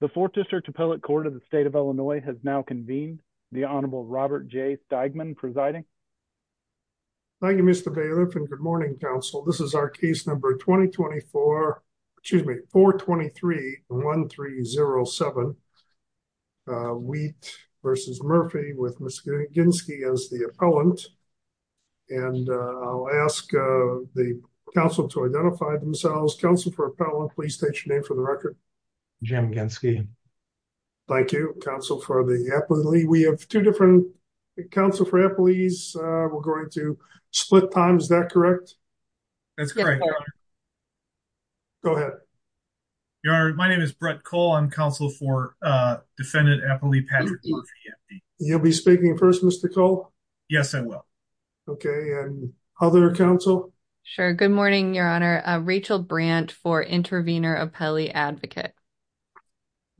The 4th District Appellate Court of the State of Illinois has now convened. The Honorable Robert J. Steigman presiding. Thank you, Mr. Bailiff and good morning, counsel. This is our case number 2024, excuse me, 423-1307. Wheat v. Murphy with Ms. Ginski as the appellant. And I'll ask the counsel to identify themselves. Counsel for appellant, please state your name for the record. Jim Ginski. Thank you. Counsel for the appellate. We have two different counsel for appellees. We're going to split time. Is that correct? That's correct, Your Honor. Go ahead. Your Honor, my name is Brett Cole. I'm counsel for defendant appellee Patrick Murphy. You'll be speaking first, Mr. Cole? Yes, I will. Okay. Other counsel? Sure. Good morning, Your Honor. Rachel Brandt for intervener appellee advocate.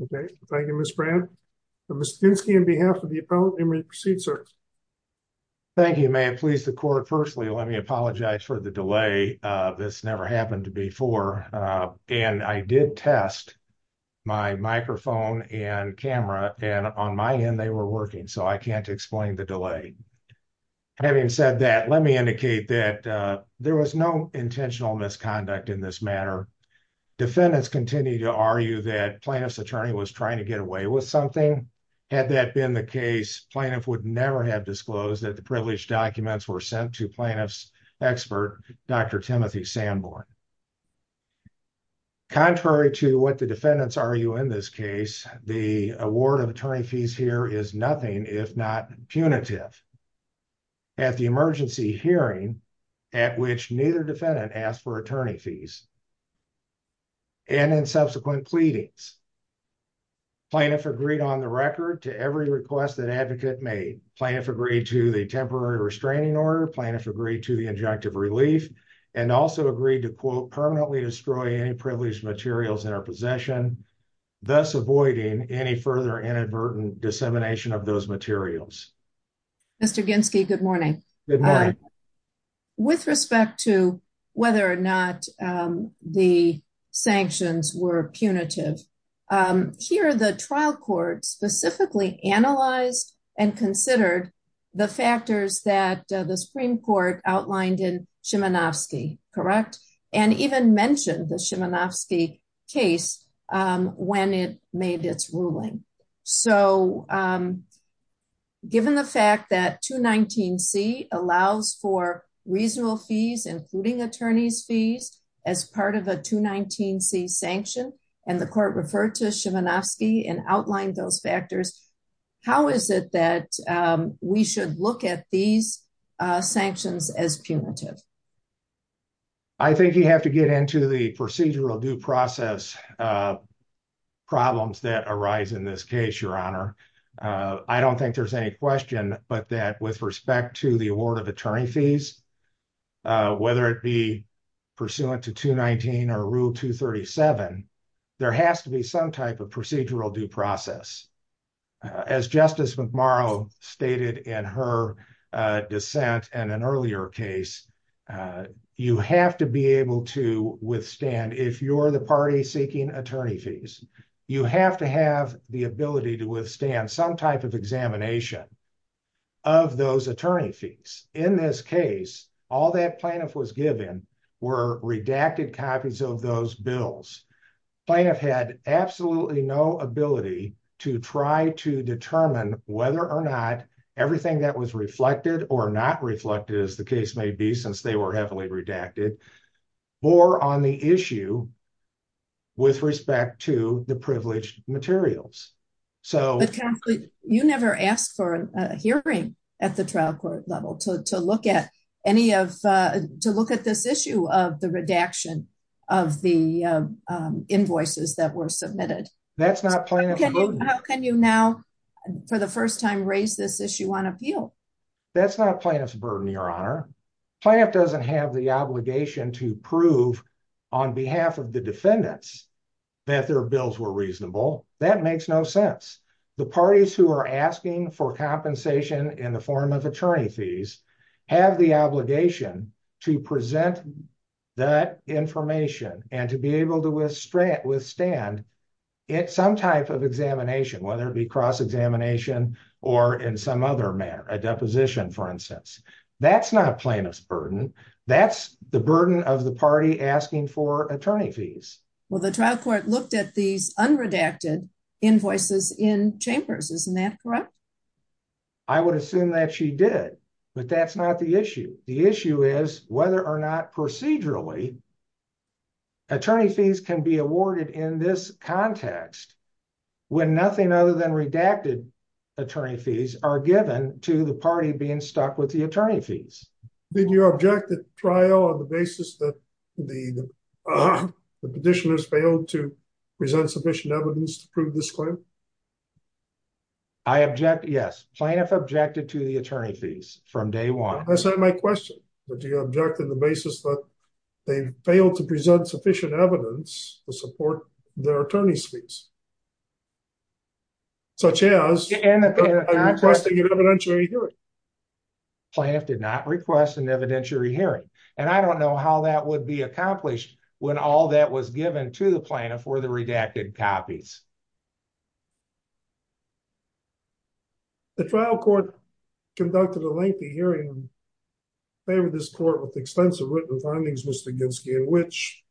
Okay. Thank you, Ms. Brandt. Mr. Ginski, on behalf of the appellant, you may proceed, sir. Thank you, ma'am. Please, the court, firstly, let me apologize for the delay. This never happened before. And I did test my microphone and camera, and on my end, they were working, so I can't explain the delay. Having said that, let me indicate that there was no intentional misconduct in this matter. Defendants continue to argue that plaintiff's attorney was trying to get away with something. Had that been the case, plaintiff would never have disclosed that the privileged documents were sent to plaintiff's expert, Dr. Timothy Sanborn. Contrary to what the defendants argue in this case, the award of attorney fees here is nothing if not punitive. At the emergency hearing, at which neither defendant asked for attorney fees, and in subsequent pleadings, plaintiff agreed on the record to every request that advocate made. Plaintiff agreed to the temporary restraining order, plaintiff agreed to the injunctive relief, and also agreed to, quote, permanently destroy any privileged materials in our possession, thus avoiding any further inadvertent dissemination of those materials. Mr. Ginski, good morning. Good morning. With respect to whether or not the sanctions were punitive, here, the trial court specifically analyzed and considered the factors that the Supreme Court outlined in Szymanowski, correct? And even mentioned the Szymanowski case when it made its ruling. So, given the fact that 219C allows for reasonable fees, including attorney's fees, as part of a 219C sanction, and the court referred to Szymanowski and outlined those factors, how is it that we should look at these sanctions as punitive? I think you have to get into the procedural due process problems that arise in this case, Your Honor. I don't think there's any question but that with respect to the award of attorney fees, whether it be pursuant to 219 or Rule 237, there has to be some type of procedural due process. As Justice McMorrow stated in her dissent and an earlier case, you have to be able to withstand, if you're the party seeking attorney fees, you have to have the ability to withstand some type of examination of those attorney fees. In this case, all that plaintiff was given were redacted copies of those bills. Plaintiff had absolutely no ability to try to determine whether or not everything that was reflected or not reflected, as the case may be since they were heavily redacted, bore on the issue with respect to the privileged materials. You never asked for a hearing at the trial court level to look at this issue of the redaction of the invoices that were submitted. That's not plaintiff's burden. How can you now, for the first time, raise this issue on appeal? That's not plaintiff's burden, Your Honor. Plaintiff doesn't have the obligation to prove on behalf of the defendants that their bills were reasonable. That makes no sense. The parties who are asking for compensation in the form of attorney fees have the obligation to present that information and to be able to withstand some type of examination, whether it be cross-examination or in some other manner, a deposition, for instance. That's not plaintiff's burden. That's the burden of the party asking for attorney fees. Well, the trial court looked at these unredacted invoices in chambers. Isn't that correct? I would assume that she did, but that's not the issue. The issue is whether or not procedurally attorney fees can be awarded in this context, when nothing other than redacted attorney fees are given to the party being stuck with the attorney fees. Did you object the trial on the basis that the petitioners failed to present sufficient evidence to prove this claim? I object, yes. Plaintiff objected to the attorney fees from day one. That's not my question. Did you object on the basis that they failed to present sufficient evidence to support their attorney fees? Such as, requesting an evidentiary hearing? Plaintiff did not request an evidentiary hearing. And I don't know how that would be accomplished when all that was given to the plaintiff for the redacted copies. The trial court conducted a lengthy hearing and favored this court with extensive written findings, Mr. Ginsky, in which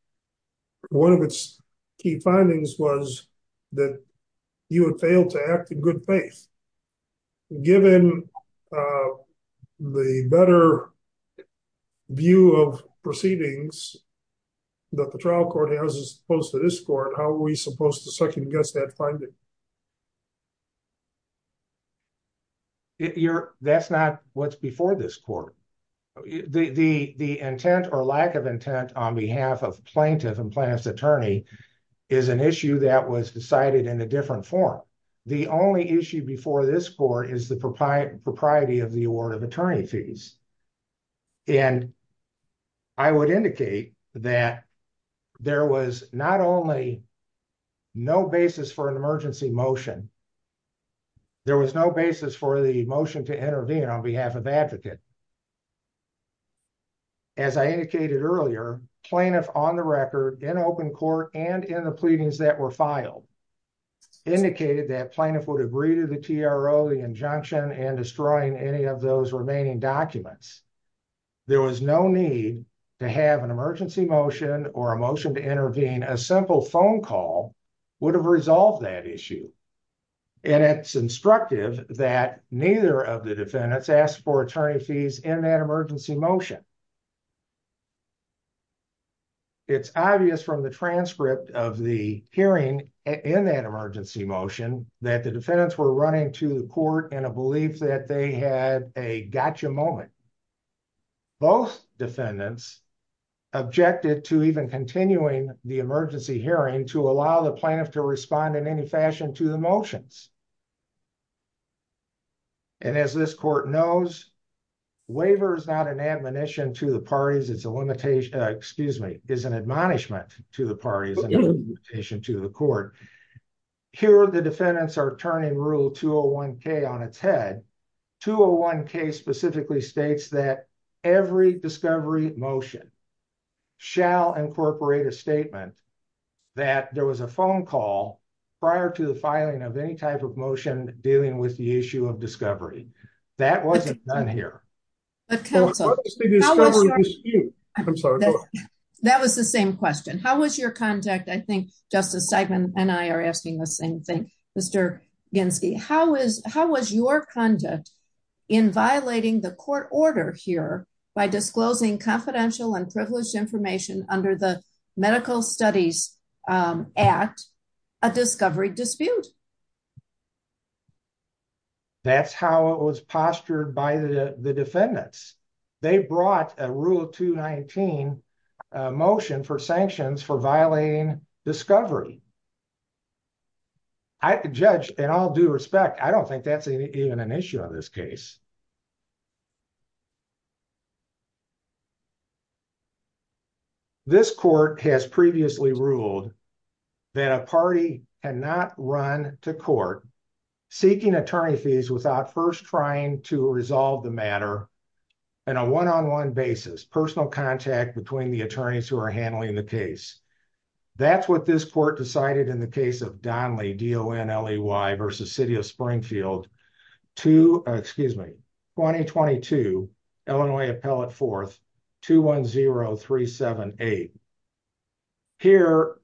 one of its key findings was that you had failed to act in good faith. Given the better view of proceedings that the trial court has as opposed to this court, how are we supposed to second guess that finding? That's not what's before this court. The intent or lack of intent on behalf of plaintiff and plaintiff's attorney is an issue that was decided in a different form. The only issue before this court is the propriety of the award of attorney fees. And I would indicate that there was not only no basis for an emergency motion, there was no basis for the motion to intervene on behalf of advocate. As I indicated earlier, plaintiff on the record in open court and in the pleadings that were filed indicated that plaintiff would agree to the TRO, the injunction, and destroying any of those remaining documents. There was no need to have an emergency motion or a motion to intervene. A simple phone call would have resolved that issue. And it's instructive that neither of the defendants asked for attorney fees in that emergency motion. It's obvious from the transcript of the hearing in that emergency motion that the defendants were running to the court in a belief that they had a gotcha moment. Both defendants objected to even continuing the emergency hearing to allow the plaintiff to respond in any fashion to the motions. And as this court knows, waiver is not an admonition to the parties, it's a limitation, excuse me, it's an admonishment to the parties and a limitation to the court. Here the defendants are turning Rule 201K on its head. 201K specifically states that every discovery motion shall incorporate a statement that there was a phone call prior to the filing of any type of motion dealing with the issue of discovery. That wasn't done here. That was the same question. How was your conduct? I think Justice Steigman and I are asking the same thing. Mr. Ginsky, how was your conduct in violating the court order here by disclosing confidential and privileged information under the Medical Studies Act, a discovery dispute? That's how it was postured by the defendants. They brought a Rule 219 motion for sanctions for violating discovery. Judge, in all due respect, I don't think that's even an issue on this case. This court has previously ruled that a party cannot run to court seeking attorney fees without first trying to resolve the matter in a one-on-one basis, personal contact between the attorneys who are handling the case. That's what this court decided in the case of Donley v. City of Springfield, 2022, Illinois Appellate 4th, 210-378. Here,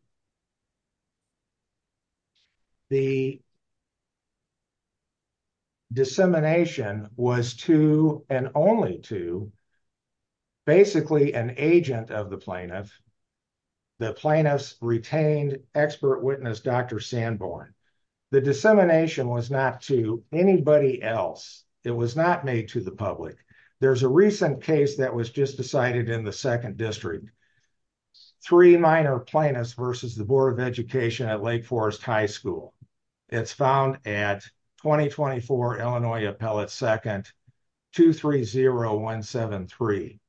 the dissemination was to and only to basically an agent of the plaintiff, the plaintiff's retained expert witness, Dr. Sanborn. The dissemination was not to anybody else. It was not made to the public. There's a recent case that was just decided in the 2nd District. Three minor plaintiffs versus the Board of Education at Lake Forest High School. It's found at 2024, Illinois Appellate 2nd, 230-173.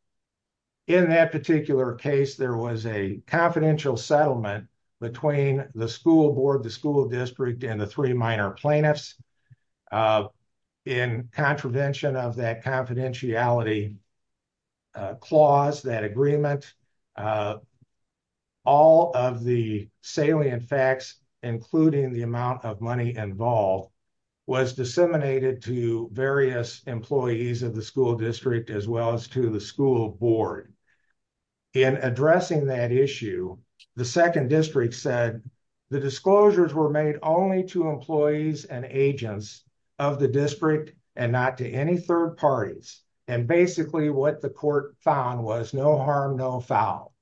In that particular case, there was a confidential settlement between the school board, the school district, and the three minor plaintiffs. In contravention of that confidentiality clause, that agreement, all of the salient facts, including the amount of money involved, was disseminated to various employees of the school district as well as to the school board. In addressing that issue, the 2nd District said, the disclosures were made only to employees and agents of the district and not to any third parties. Basically, what the court found was no harm, no foul.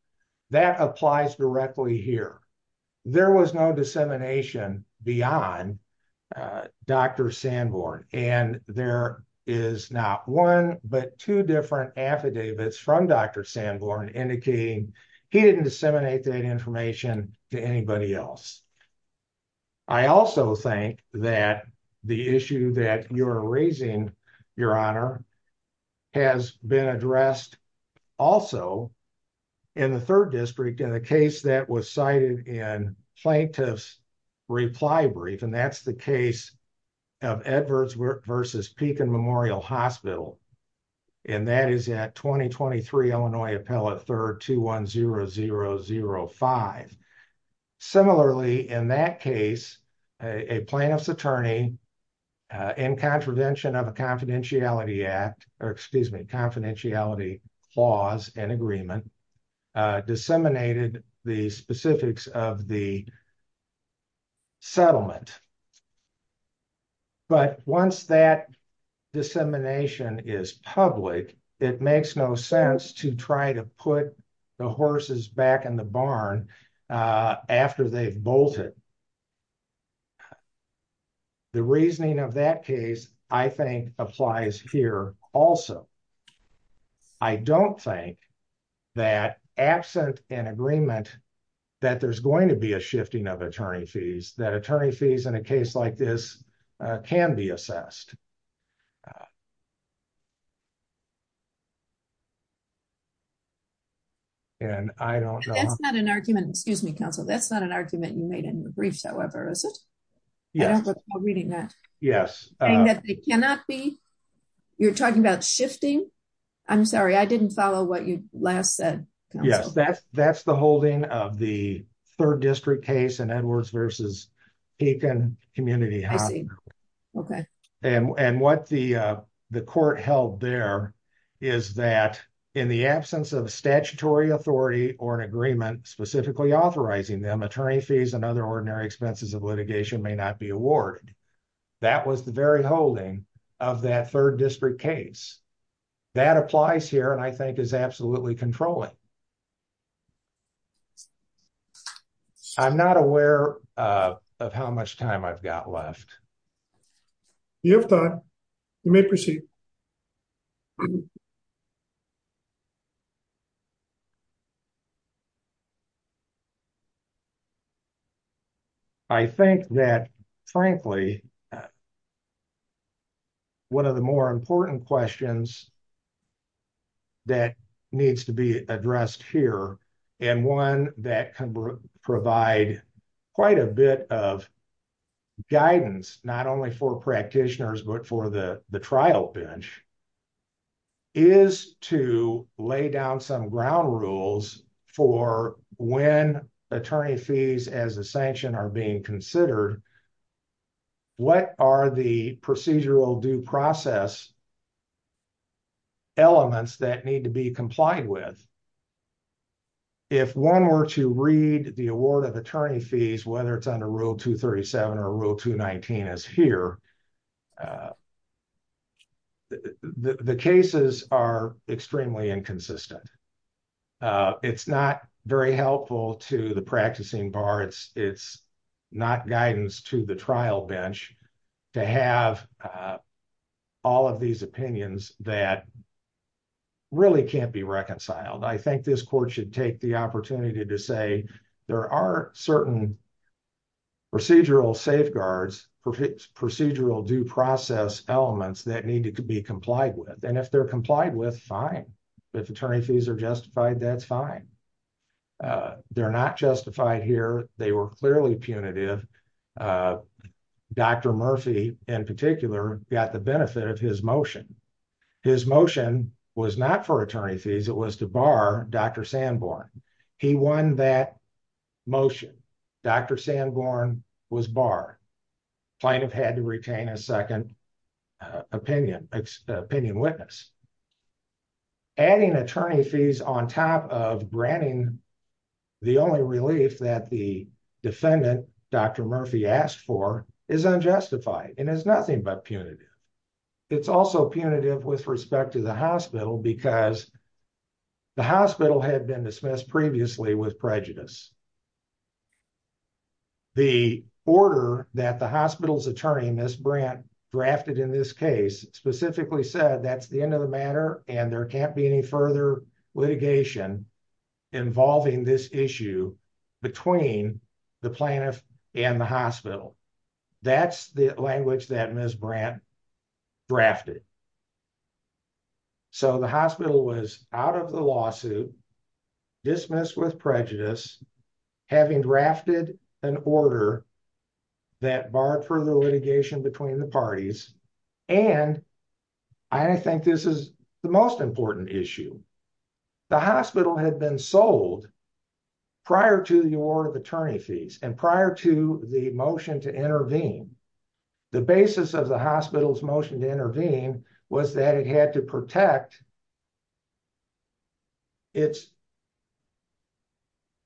That applies directly here. There was no dissemination beyond Dr. Sanborn. There is not one but two different affidavits from Dr. Sanborn indicating he didn't disseminate that information to anybody else. I also think that the issue that you are raising, Your Honor, has been addressed also in the 3rd District in the case that was cited in plaintiff's reply brief. That's the case of Edwards versus Pekin Memorial Hospital. That is at 2023 Illinois Appellate 3rd, 210005. Similarly, in that case, a plaintiff's attorney, in contravention of a confidentiality act, or excuse me, confidentiality clause and agreement, disseminated the specifics of the settlement. But once that dissemination is public, it makes no sense to try to put the horses back in the barn after they've bolted. The reasoning of that case, I think, applies here also. I don't think that absent an agreement, that there's going to be a shifting of attorney fees, that attorney fees in a case like this can be assessed. And I don't know. That's not an argument, excuse me, counsel, that's not an argument you made in the briefs, however, is it? Yes. I don't recall reading that. Yes. You're talking about shifting? I'm sorry, I didn't follow what you last said. Yes, that's the holding of the 3rd District case in Edwards versus Pekin Community Hospital. Okay. And what the court held there is that in the absence of a statutory authority or an agreement specifically authorizing them, attorney fees and other ordinary expenses of litigation may not be awarded. That was the very holding of that 3rd District case. That applies here and I think is absolutely controlling. I'm not aware of how much time I've got left. You have time. You may proceed. I think that, frankly, one of the more important questions that needs to be addressed here and one that can provide quite a bit of guidance, not only for practitioners but for the trial bench, is to lay down some ground rules for when attorney fees as a sanction are being considered. What are the procedural due process elements that need to be complied with? If one were to read the award of attorney fees, whether it's under Rule 237 or Rule 219 as here, the cases are extremely inconsistent. It's not very helpful to the practicing bar. It's not guidance to the trial bench to have all of these opinions that really can't be reconciled. I think this court should take the opportunity to say there are certain procedural safeguards, procedural due process elements that need to be complied with. If they're complied with, fine. If attorney fees are justified, that's fine. They're not justified here. They were clearly punitive. Dr. Murphy, in particular, got the benefit of his motion. His motion was not for attorney fees. It was to bar Dr. Sanborn. He won that motion. Dr. Sanborn was barred. Plaintiff had to retain a second opinion witness. Adding attorney fees on top of granting the only relief that the defendant, Dr. Murphy, asked for is unjustified and is nothing but punitive. It's also punitive with respect to the hospital because the hospital had been dismissed previously with prejudice. The order that the hospital's attorney, Ms. Brandt, drafted in this case specifically said that's the end of the matter and there can't be any further litigation involving this issue between the plaintiff and the hospital. That's the language that Ms. Brandt drafted. The hospital was out of the lawsuit, dismissed with prejudice, having drafted an order that barred further litigation between the parties, and I think this is the most important issue. The hospital had been sold prior to the award of attorney fees and prior to the motion to intervene. The basis of the hospital's motion to intervene was that it had to protect its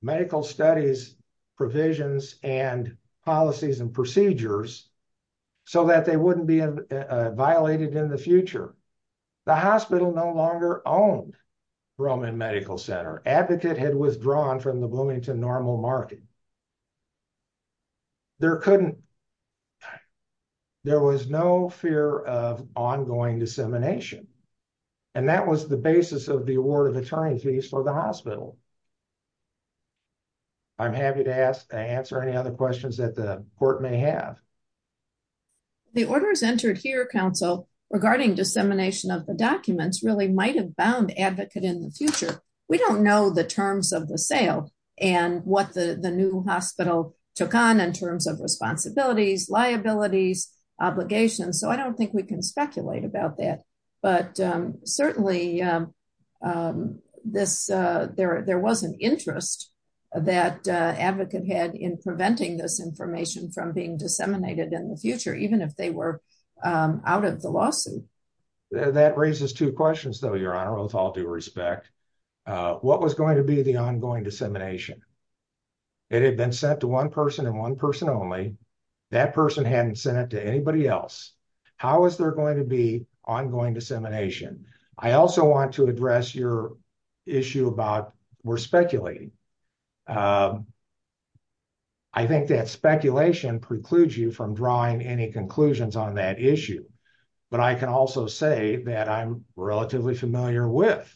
medical studies, provisions, and policies and procedures so that they wouldn't be violated in the future. The hospital no longer owned Roman Medical Center. Advocate had withdrawn from the Bloomington Normal Market. There was no fear of ongoing dissemination, and that was the basis of the award of attorney fees for the hospital. I'm happy to answer any other questions that the court may have. The orders entered here, counsel, regarding dissemination of the documents really might have bound Advocate in the future. We don't know the terms of the sale and what the new hospital took on in terms of responsibilities, liabilities, obligations, so I don't think we can speculate about that, but certainly there was an interest that Advocate had in preventing this information from being disseminated in the future, even if they were out of the lawsuit. That raises two questions, though, Your Honor, with all due respect. What was going to be the ongoing dissemination? It had been sent to one person and one person only. That person hadn't sent it to anybody else. How is there going to be ongoing dissemination? I also want to address your issue about we're speculating. I think that speculation precludes you from drawing any conclusions on that issue, but I can also say that I'm relatively familiar with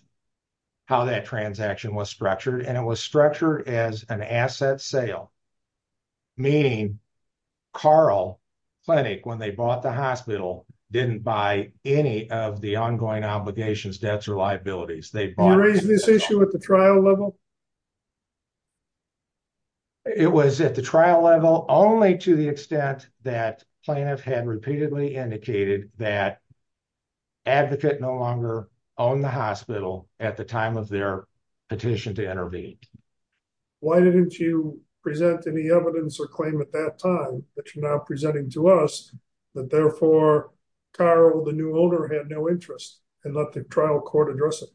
how that transaction was structured, and it was structured as an asset sale, meaning Carl Clinic, when they bought the hospital, didn't buy any of the ongoing obligations, debts, or liabilities. You raised this issue at the trial level? It was at the trial level only to the extent that Plaintiff had repeatedly indicated that Advocate no longer owned the hospital at the time of their petition to intervene. Why didn't you present any evidence or claim at that time that you're now presenting to us that therefore Carl, the new owner, had no interest and let the trial court address it?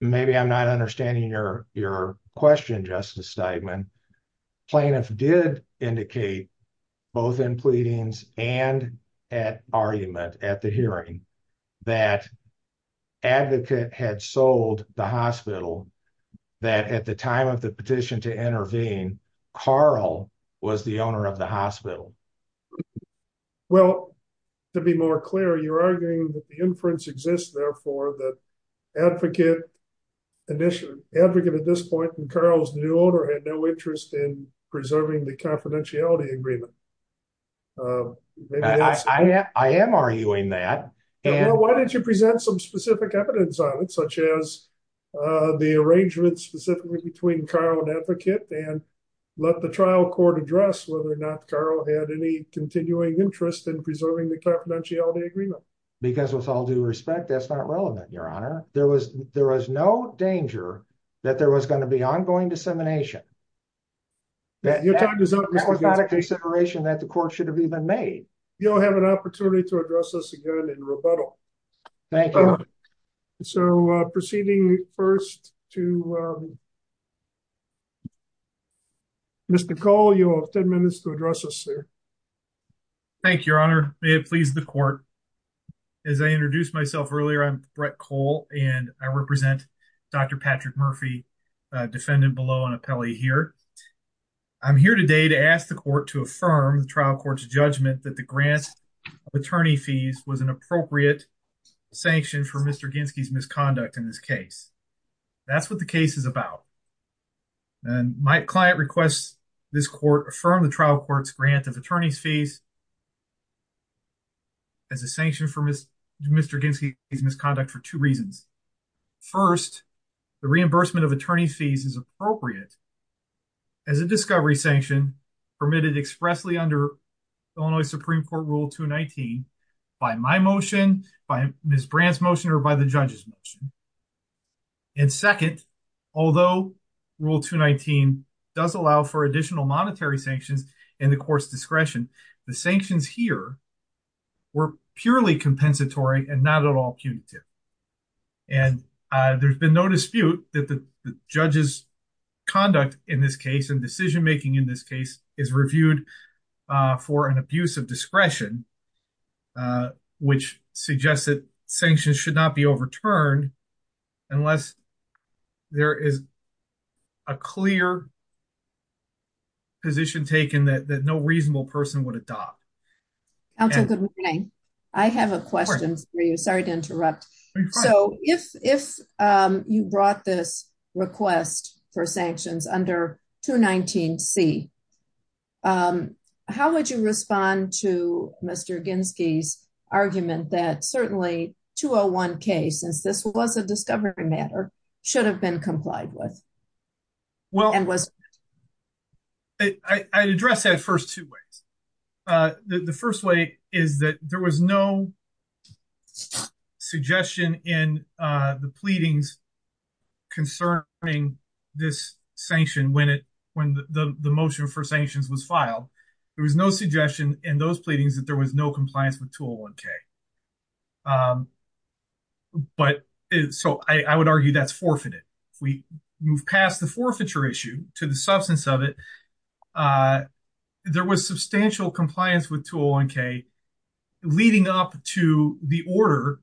Maybe I'm not understanding your question, Justice Steigman. Plaintiff did indicate both in pleadings and at argument at the hearing that Advocate had sold the hospital, that at the time of the petition to intervene, Carl was the owner of the hospital. Well, to be more clear, you're arguing that the inference exists, therefore, that Advocate at this point and Carl's new owner had no interest in preserving the confidentiality agreement. I am arguing that. Well, why didn't you present some specific evidence on it, such as the arrangement specifically between Carl and Advocate and let the trial court address whether or not Carl had any continuing interest in preserving the confidentiality agreement? Because with all due respect, that's not relevant, Your Honor. There was no danger that there was going to be ongoing dissemination. That was not a consideration that the court should have even made. You'll have an opportunity to address this again in rebuttal. Thank you. So proceeding first to Mr. Cole, you have 10 minutes to address this, sir. Thank you, Your Honor. May it please the court. As I introduced myself earlier, I'm Brett Cole, and I represent Dr. Patrick Murphy, defendant below on appellee here. I'm here today to ask the court to affirm the trial court's judgment that the grant of attorney fees was an appropriate sanction for Mr. Ginsky's misconduct in this case. That's what the case is about. My client requests this court affirm the trial court's grant of attorney's fees as a sanction for Mr. Ginsky's misconduct for two reasons. First, the reimbursement of attorney's fees is appropriate as a discovery sanction permitted expressly under Illinois Supreme Court Rule 219 by my motion, by Ms. Brandt's motion, or by the judge's motion. And second, although Rule 219 does allow for additional monetary sanctions and the court's discretion, the sanctions here were purely compensatory and not at all punitive. And there's been no dispute that the judge's conduct in this case and decision-making in this case is reviewed for an abuse of discretion, which suggests that sanctions should not be overturned unless there is a clear position taken that no reasonable person would adopt. Counsel, good morning. I have a question for you. Sorry to interrupt. So if you brought this request for sanctions under 219C, how would you respond to Mr. Ginsky's argument that certainly 201K, since this was a discovery matter, should have been complied with? Well, I'd address that first two ways. The first way is that there was no suggestion in the pleadings concerning this sanction when the motion for sanctions was filed. There was no suggestion in those pleadings that there was no compliance with 201K. So I would argue that's forfeited. If we move past the forfeiture issue to the substance of it, there was substantial compliance with 201K leading up to the order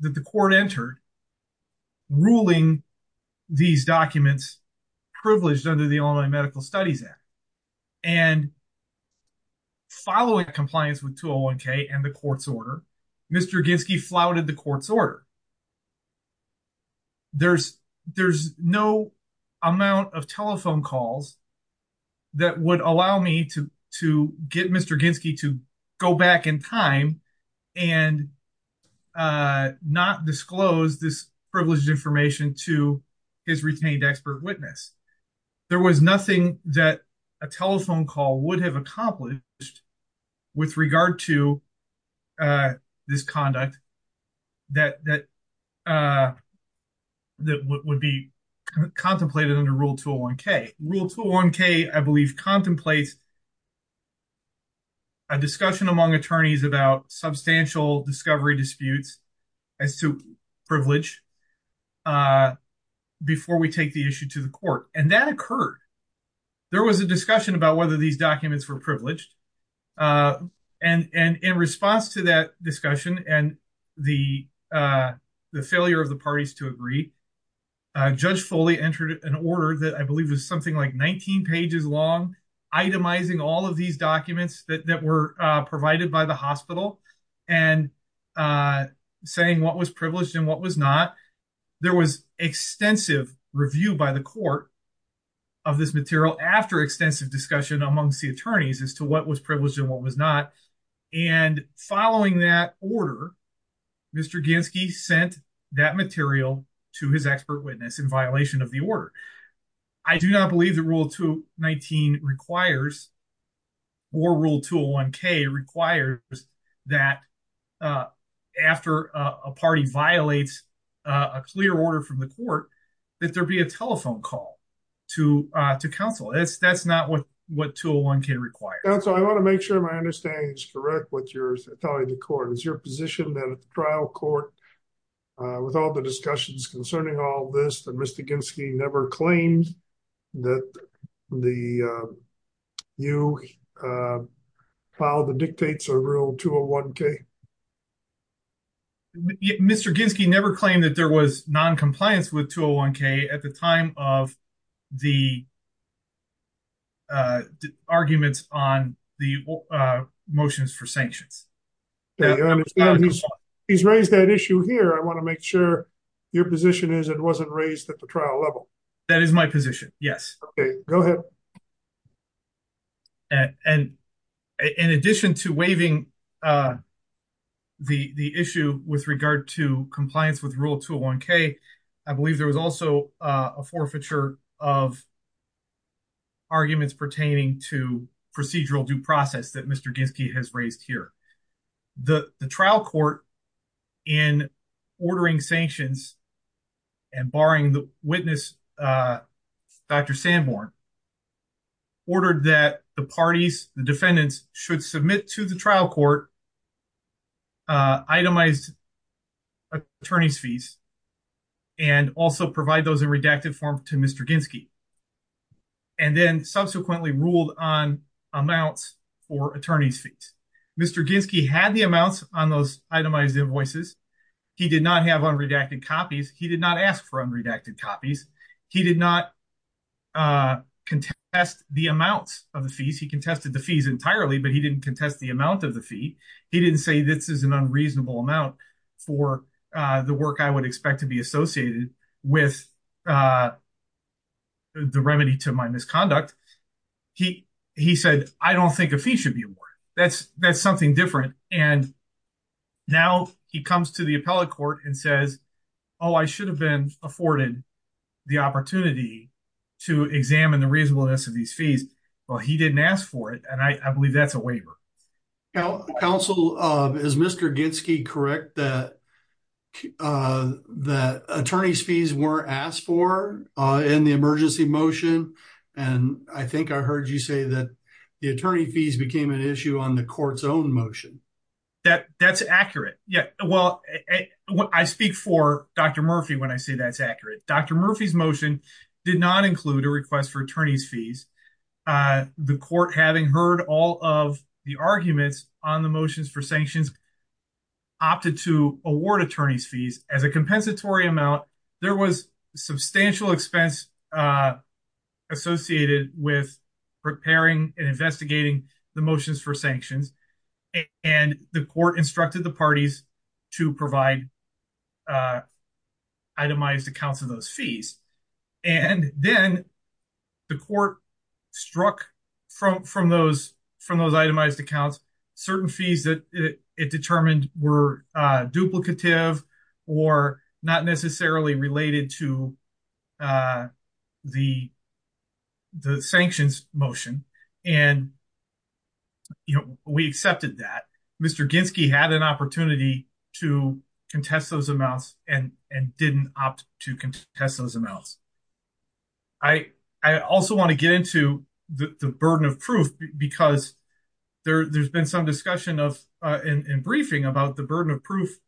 that the court entered ruling these documents privileged under the Illinois Medical Studies Act. And following compliance with 201K and the court's order, Mr. Ginsky flouted the court's order. There's no amount of telephone calls that would allow me to get Mr. Ginsky to go back in time and not disclose this privileged information to his retained expert witness. There was nothing that a telephone call would have accomplished with regard to this conduct that would be contemplated under Rule 201K. Rule 201K, I believe, contemplates a discussion among attorneys about substantial discovery disputes as to privilege before we take the issue to the court. And that occurred. There was a discussion about whether these documents were privileged. And in response to that discussion and the failure of the parties to agree, Judge Foley entered an order that I believe was something like 19 pages long, itemizing all of these documents that were provided by the hospital and saying what was privileged and what was not. There was extensive review by the court of this material after extensive discussion amongst the attorneys as to what was privileged and what was not. And following that order, Mr. Ginsky sent that material to his expert witness in violation of the order. I do not believe that Rule 219 requires or Rule 201K requires that after a party violates a clear order from the court that there be a telephone call to counsel. That's not what 201K requires. Counsel, I want to make sure my understanding is correct with your telling the court. Is your position that at the trial court, with all the discussions concerning all this, that Mr. Ginsky never claimed that you filed the dictates of Rule 201K? Mr. Ginsky never claimed that there was noncompliance with 201K at the time of the arguments on the motions for sanctions. He's raised that issue here. I want to make sure your position is that it wasn't raised at the trial level. That is my position, yes. Okay, go ahead. And in addition to waiving the issue with regard to compliance with Rule 201K, I believe there was also a forfeiture of arguments pertaining to procedural due process that Mr. Ginsky has raised here. The trial court, in ordering sanctions and barring the witness, Dr. Sanborn, ordered that the parties, the defendants, should submit to the trial court itemized attorney's fees and also provide those in redacted form to Mr. Ginsky and then subsequently ruled on amounts for attorney's fees. Mr. Ginsky had the amounts on those itemized invoices. He did not have unredacted copies. He did not ask for unredacted copies. He did not contest the amounts of the fees. He contested the fees entirely, but he didn't contest the amount of the fee. He didn't say this is an unreasonable amount for the work I would expect to be associated with the remedy to my misconduct. He said, I don't think a fee should be awarded. That's something different. And now he comes to the appellate court and says, oh, I should have been afforded the opportunity to examine the reasonableness of these fees. Well, he didn't ask for it, and I believe that's a waiver. Counsel, is Mr. Ginsky correct that attorney's fees were asked for in the emergency motion? And I think I heard you say that the attorney fees became an issue on the court's own motion. That's accurate. Well, I speak for Dr. Murphy when I say that's accurate. Dr. Murphy's motion did not include a request for attorney's fees. The court, having heard all of the arguments on the motions for sanctions, opted to award attorney's fees as a compensatory amount. There was substantial expense associated with preparing and investigating the motions for sanctions, and the court instructed the parties to provide itemized accounts of those fees. And then the court struck from those itemized accounts, certain fees that it determined were duplicative or not necessarily related to the sanctions motion, and we accepted that. Mr. Ginsky had an opportunity to contest those amounts and didn't opt to contest those amounts. I also want to get into the burden of proof because there's been some discussion in briefing about the burden of proof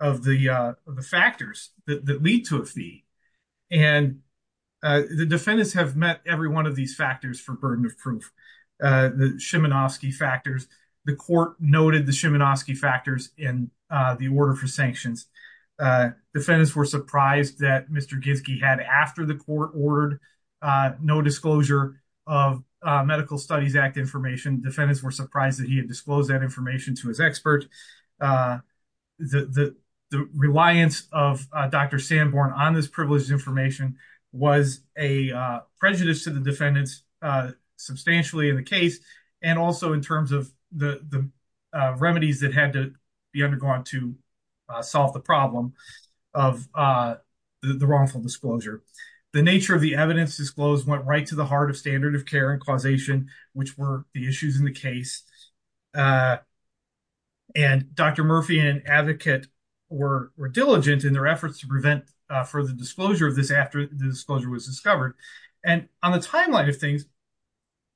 of the factors that lead to a fee, and the defendants have met every one of these factors for burden of proof, the Shimanoski factors. The court noted the Shimanoski factors in the order for sanctions. Defendants were surprised that Mr. Ginsky had after the court ordered no disclosure of Medical Studies Act information. Defendants were surprised that he had disclosed that information to his expert. The reliance of Dr. Sanborn on this privileged information was a prejudice to the defendants substantially in the case and also in terms of the remedies that had to be undergone to solve the problem of the wrongful disclosure. The nature of the evidence disclosed went right to the heart of standard of care and causation, which were the issues in the case. And Dr. Murphy and an advocate were diligent in their efforts to prevent further disclosure of this after the disclosure was discovered. And on the timeline of things,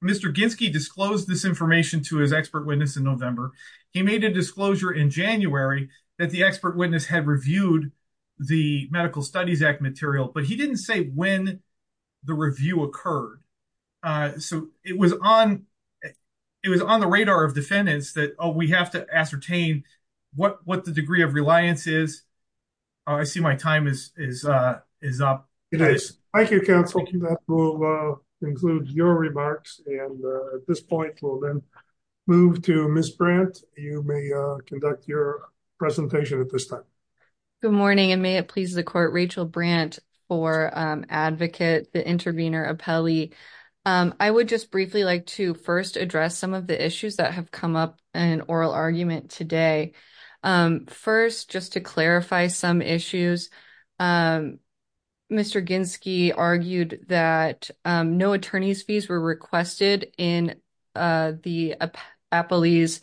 Mr. Ginsky disclosed this information to his expert witness in November. He made a disclosure in January that the expert witness had reviewed the Medical Studies Act material, but he didn't say when the review occurred. So it was on the radar of defendants that, oh, we have to ascertain what the degree of reliance is. I see my time is up. It is. Thank you, counsel. That will conclude your remarks. And at this point, we'll then move to Ms. Brandt. You may conduct your presentation at this time. Good morning, and may it please the court, Rachel Brandt for advocate, the intervener appellee. I would just briefly like to first address some of the issues that have come up in oral argument today. First, just to clarify some issues, Mr. Ginsky argued that no attorney's fees were requested in the appellee's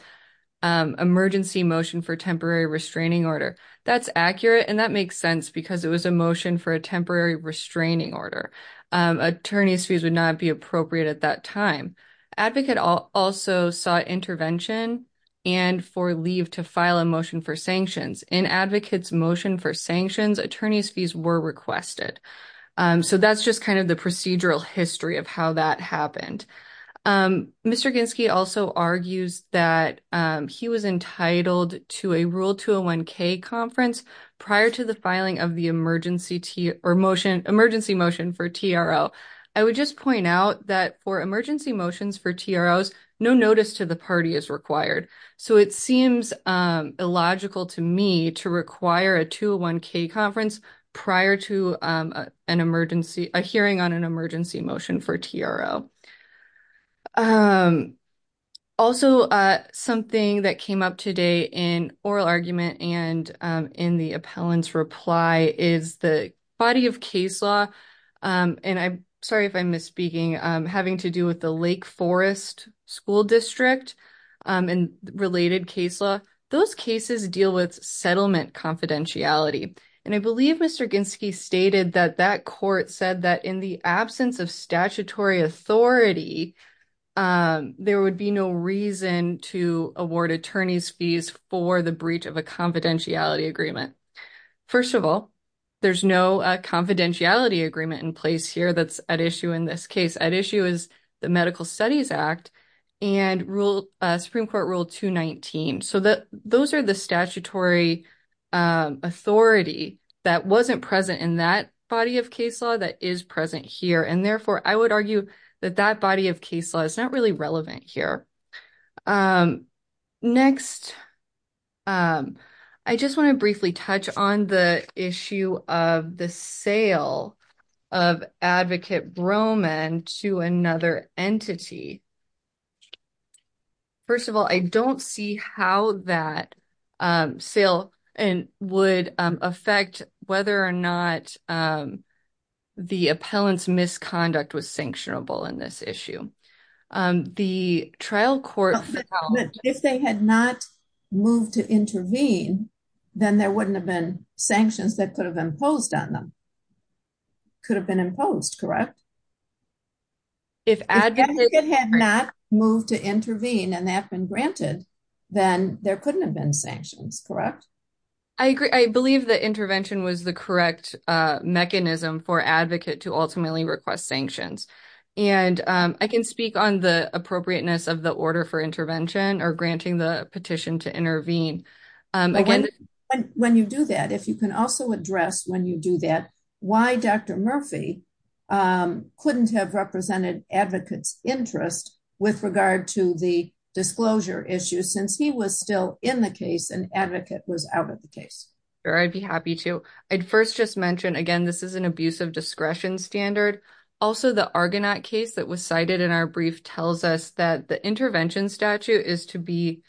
emergency motion for temporary restraining order. That's accurate, and that makes sense, because it was a motion for a temporary restraining order. Attorney's fees would not be appropriate at that time. Advocate also sought intervention and for leave to file a motion for sanctions. In advocate's motion for sanctions, attorney's fees were requested. So that's just kind of the procedural history of how that happened. Mr. Ginsky also argues that he was entitled to a rule 201K conference prior to the filing of the emergency motion for TRO. I would just point out that for emergency motions for TROs, no notice to the party is required. So it seems illogical to me to require a 201K conference prior to a hearing on an emergency motion for TRO. Also, something that came up today in oral argument and in the appellant's reply is the body of case law, and I'm sorry if I'm misspeaking, having to do with the Lake Forest School District and related case law, those cases deal with settlement confidentiality. And I believe Mr. Ginsky stated that that court said that in the absence of statutory authority, there would be no reason to award attorney's fees for the breach of a confidentiality agreement. First of all, there's no confidentiality agreement in place here that's at issue in this case. At issue is the Medical Studies Act and Supreme Court Rule 219. So those are the statutory authority that wasn't present in that body of case law that is present here. And, therefore, I would argue that that body of case law is not really relevant here. Next, I just want to briefly touch on the issue of the sale of Advocate Broman to another entity. First of all, I don't see how that sale would affect whether or not the appellant's misconduct was sanctionable in this issue. The trial court found that if they had not moved to intervene, then there wouldn't have been sanctions that could have imposed on them. Could have been imposed, correct? If Advocate had not moved to intervene and that had been granted, then there couldn't have been sanctions, correct? I agree. I believe that intervention was the correct mechanism for Advocate to ultimately request sanctions. And I can speak on the appropriateness of the order for intervention or granting the petition to intervene. When you do that, if you can also address when you do that, why Dr. Murphy couldn't have represented Advocate's interest with regard to the disclosure issue, since he was still in the case and Advocate was out of the case. Sure, I'd be happy to. I'd first just mention, again, this is an abuse of discretion standard. Also, the Argonaut case that was cited in our brief tells us that the intervention statute is to be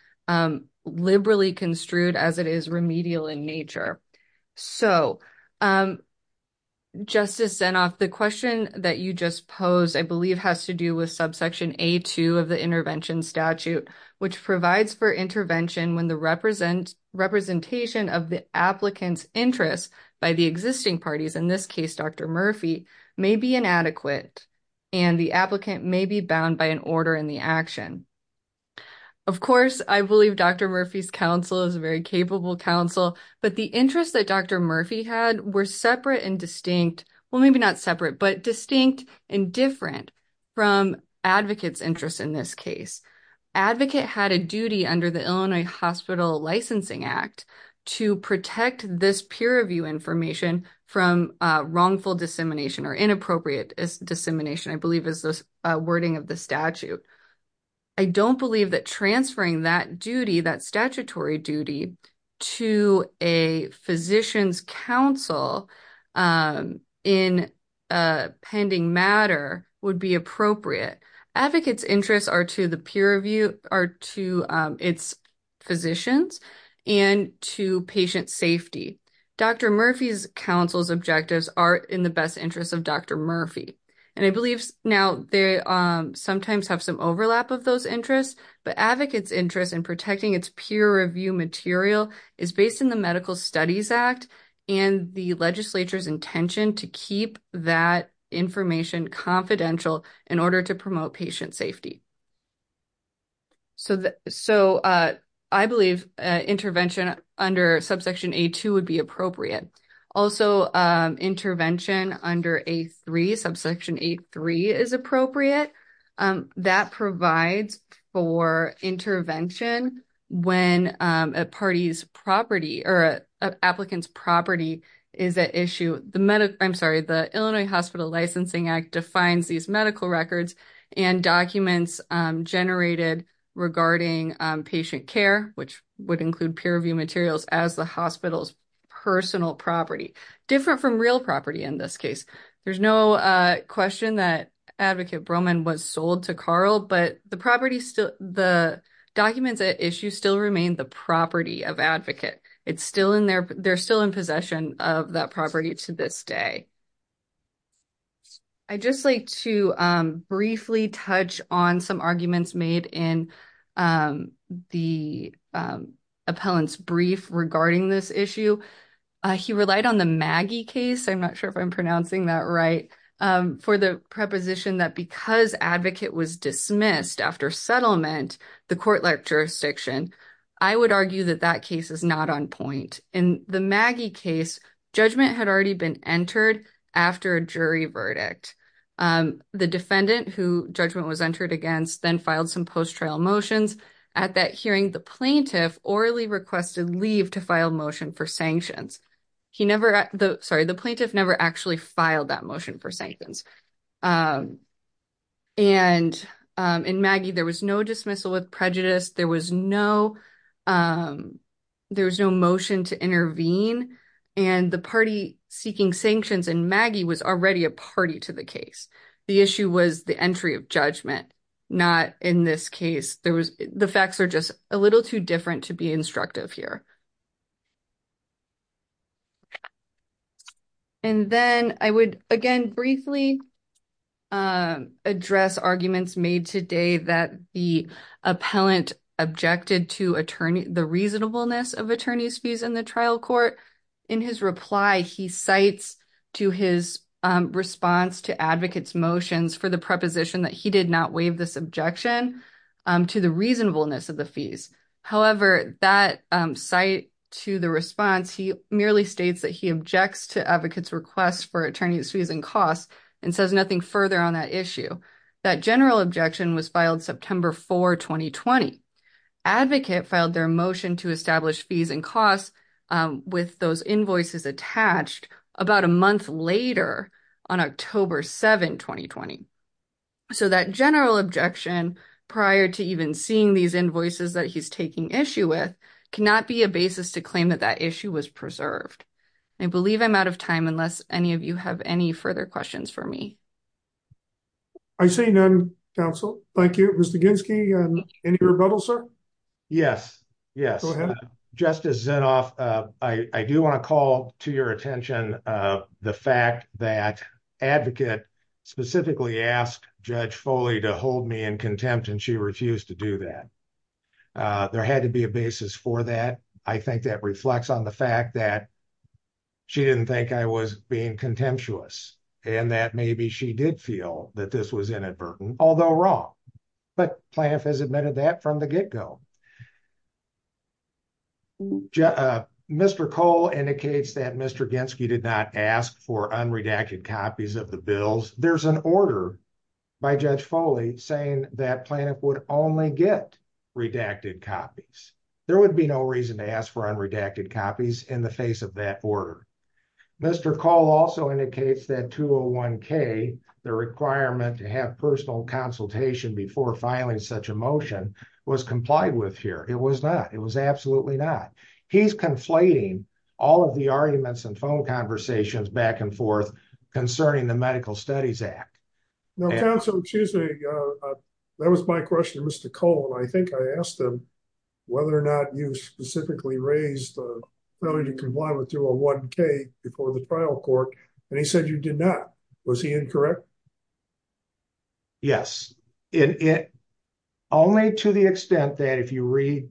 liberally construed as it is remedial in nature. So, Justice Zinoff, the question that you just posed, I believe, has to do with subsection A2 of the intervention statute, which provides for intervention when the representation of the applicant's interest by the existing parties, in this case Dr. Murphy, may be inadequate and the applicant may be bound by an order in the action. Of course, I believe Dr. Murphy's counsel is a very capable counsel, but the interests that Dr. Murphy had were separate and distinct, well, maybe not separate, but distinct and different from Advocate's interest in this case. Advocate had a duty under the Illinois Hospital Licensing Act to protect this peer review information from wrongful dissemination or inappropriate dissemination, I believe is the wording of the statute. I don't believe that transferring that duty, that statutory duty, to a physician's counsel in a pending matter would be appropriate. Advocate's interests are to the peer review, are to its physicians, and to patient safety. Dr. Murphy's counsel's objectives are in the best interest of Dr. Murphy, and I believe now they sometimes have some overlap of those interests, but Advocate's interest in protecting its peer review material is based in the Medical Studies Act and the legislature's intention to keep that information confidential in order to promote patient safety. So I believe intervention under subsection A2 would be appropriate. Also, intervention under A3, subsection A3, is appropriate. That provides for intervention when a party's property or an applicant's property is at issue. I'm sorry, the Illinois Hospital Licensing Act defines these medical records and documents generated regarding patient care, which would include peer review materials, as the hospital's personal property, different from real property in this case. There's no question that Advocate Broman was sold to Carl, but the documents at issue still remain the property of Advocate. They're still in possession of that property to this day. I'd just like to briefly touch on some arguments made in the appellant's brief regarding this issue. He relied on the Maggie case, I'm not sure if I'm pronouncing that right, for the preposition that because Advocate was dismissed after settlement, the court liked jurisdiction. I would argue that that case is not on point. In the Maggie case, judgment had already been entered after a jury verdict. The defendant who judgment was entered against then filed some post-trial motions. At that hearing, the plaintiff orally requested leave to file motion for sanctions. The plaintiff never actually filed that motion for sanctions. In Maggie, there was no dismissal with prejudice, there was no motion to intervene, and the party seeking sanctions in Maggie was already a party to the case. The issue was the entry of judgment, not in this case. The facts are just a little too different to be instructive here. Then I would, again, briefly address arguments made today that the appellant objected to the reasonableness of attorney's fees in the trial court. In his reply, he cites to his response to Advocate's motions for the preposition that he did not waive this objection to the reasonableness of the fees. However, that cite to the response, he merely states that he objects to Advocate's request for attorney's fees and costs and says nothing further on that issue. That general objection was filed September 4, 2020. Advocate filed their motion to establish fees and costs with those invoices attached about a month later on October 7, 2020. So that general objection prior to even seeing these invoices that he's taking issue with cannot be a basis to claim that that issue was preserved. I believe I'm out of time unless any of you have any further questions for me. I see none, counsel. Thank you. Mr. Ginsky, any rebuttal, sir? Yes. Go ahead. Justice Zinoff, I do want to call to your attention the fact that Advocate specifically asked Judge Foley to hold me in contempt and she refused to do that. There had to be a basis for that. I think that reflects on the fact that she didn't think I was being contemptuous and that maybe she did feel that this was inadvertent, although wrong. But Plaintiff has admitted that from the get-go. Mr. Cole indicates that Mr. Ginsky did not ask for unredacted copies of the bills. There's an order by Judge Foley saying that Plaintiff would only get redacted copies. There would be no reason to ask for unredacted copies in the face of that order. Mr. Cole also indicates that 201K, the requirement to have personal consultation before filing such a motion, was complied with here. It was not. It was absolutely not. He's conflating all of the arguments and phone conversations back and forth concerning the Medical Studies Act. Counsel, excuse me. That was my question to Mr. Cole. I think I asked him whether or not you specifically raised whether you complied with 201K before the trial court and he said you did not. Was he incorrect? Yes. Only to the extent that if you read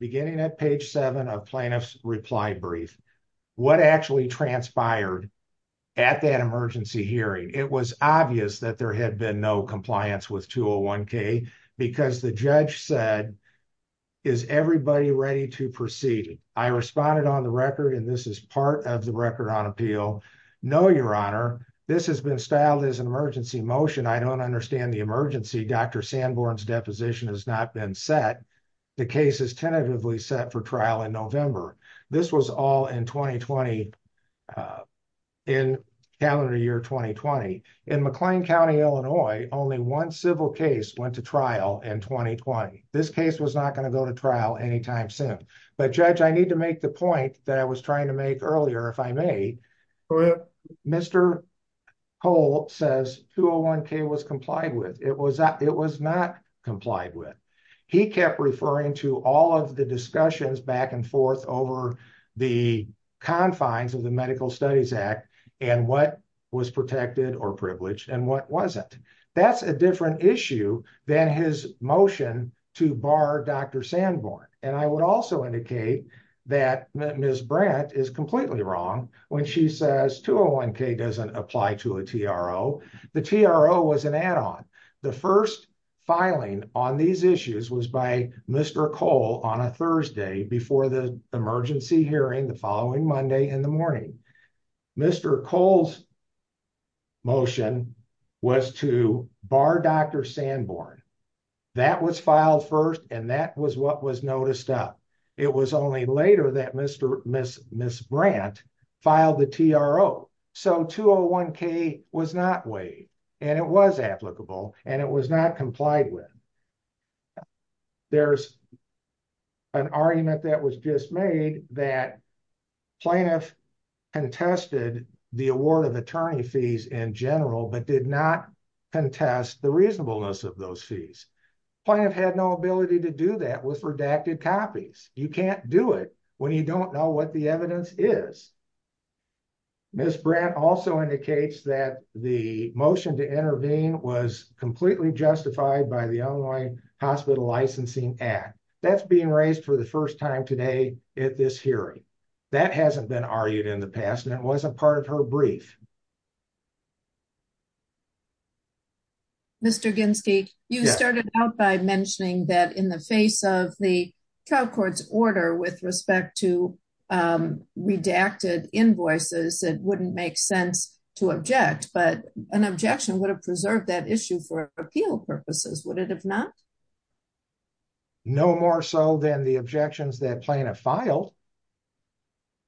beginning at page 7 of Plaintiff's reply brief, what actually transpired at that emergency hearing. It was obvious that there had been no compliance with 201K because the judge said, is everybody ready to proceed? I responded on the record and this is part of the record on appeal. Counsel, no, Your Honor. This has been styled as an emergency motion. I don't understand the emergency. Dr. Sanborn's deposition has not been set. The case is tentatively set for trial in November. This was all in 2020, in calendar year 2020. In McLean County, Illinois, only one civil case went to trial in 2020. This case was not going to go to trial anytime soon. Judge, I need to make the point that I was trying to make earlier, if I may. Mr. Cole says 201K was complied with. It was not complied with. He kept referring to all of the discussions back and forth over the confines of the Medical Studies Act and what was protected or privileged and what wasn't. That's a different issue than his motion to bar Dr. Sanborn. And I would also indicate that Ms. Brant is completely wrong when she says 201K doesn't apply to a TRO. The TRO was an add-on. The first filing on these issues was by Mr. Cole on a Thursday before the emergency hearing the following Monday in the morning. Mr. Cole's motion was to bar Dr. Sanborn. That was filed first and that was what was noticed up. It was only later that Ms. Brant filed the TRO. So 201K was not weighed and it was applicable and it was not complied with. There's an argument that was just made that plaintiff contested the award of attorney fees in general, but did not contest the reasonableness of those fees. Plaintiff had no ability to do that with redacted copies. You can't do it when you don't know what the evidence is. Ms. Brant also indicates that the motion to intervene was completely justified by the Illinois Hospital Licensing Act. That's being raised for the first time today at this hearing. That hasn't been argued in the past and it wasn't part of her brief. Mr. you started out by mentioning that in the face of the Cal courts order with respect to redacted invoices, it wouldn't make sense to object, but an objection would have preserved that issue for appeal purposes. Would it have not? No more so than the objections that plan a file.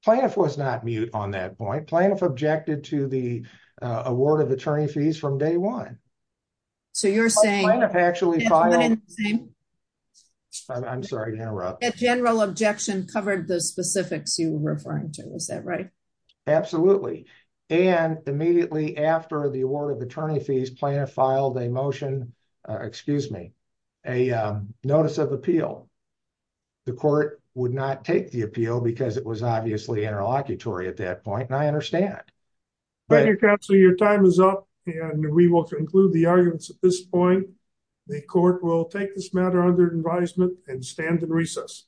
Plaintiff was not mute on that point. Plaintiff objected to the award of attorney fees from day one. So you're saying. I'm sorry to interrupt. General objection covered the specifics you were referring to. Is that right? Absolutely. And immediately after the award of attorney fees, plaintiff filed a motion, excuse me, a notice of appeal. The court would not take the appeal because it was obviously interlocutory at that point. And I understand. So your time is up and we will conclude the arguments at this point. The court will take this matter under advisement and stand in recess.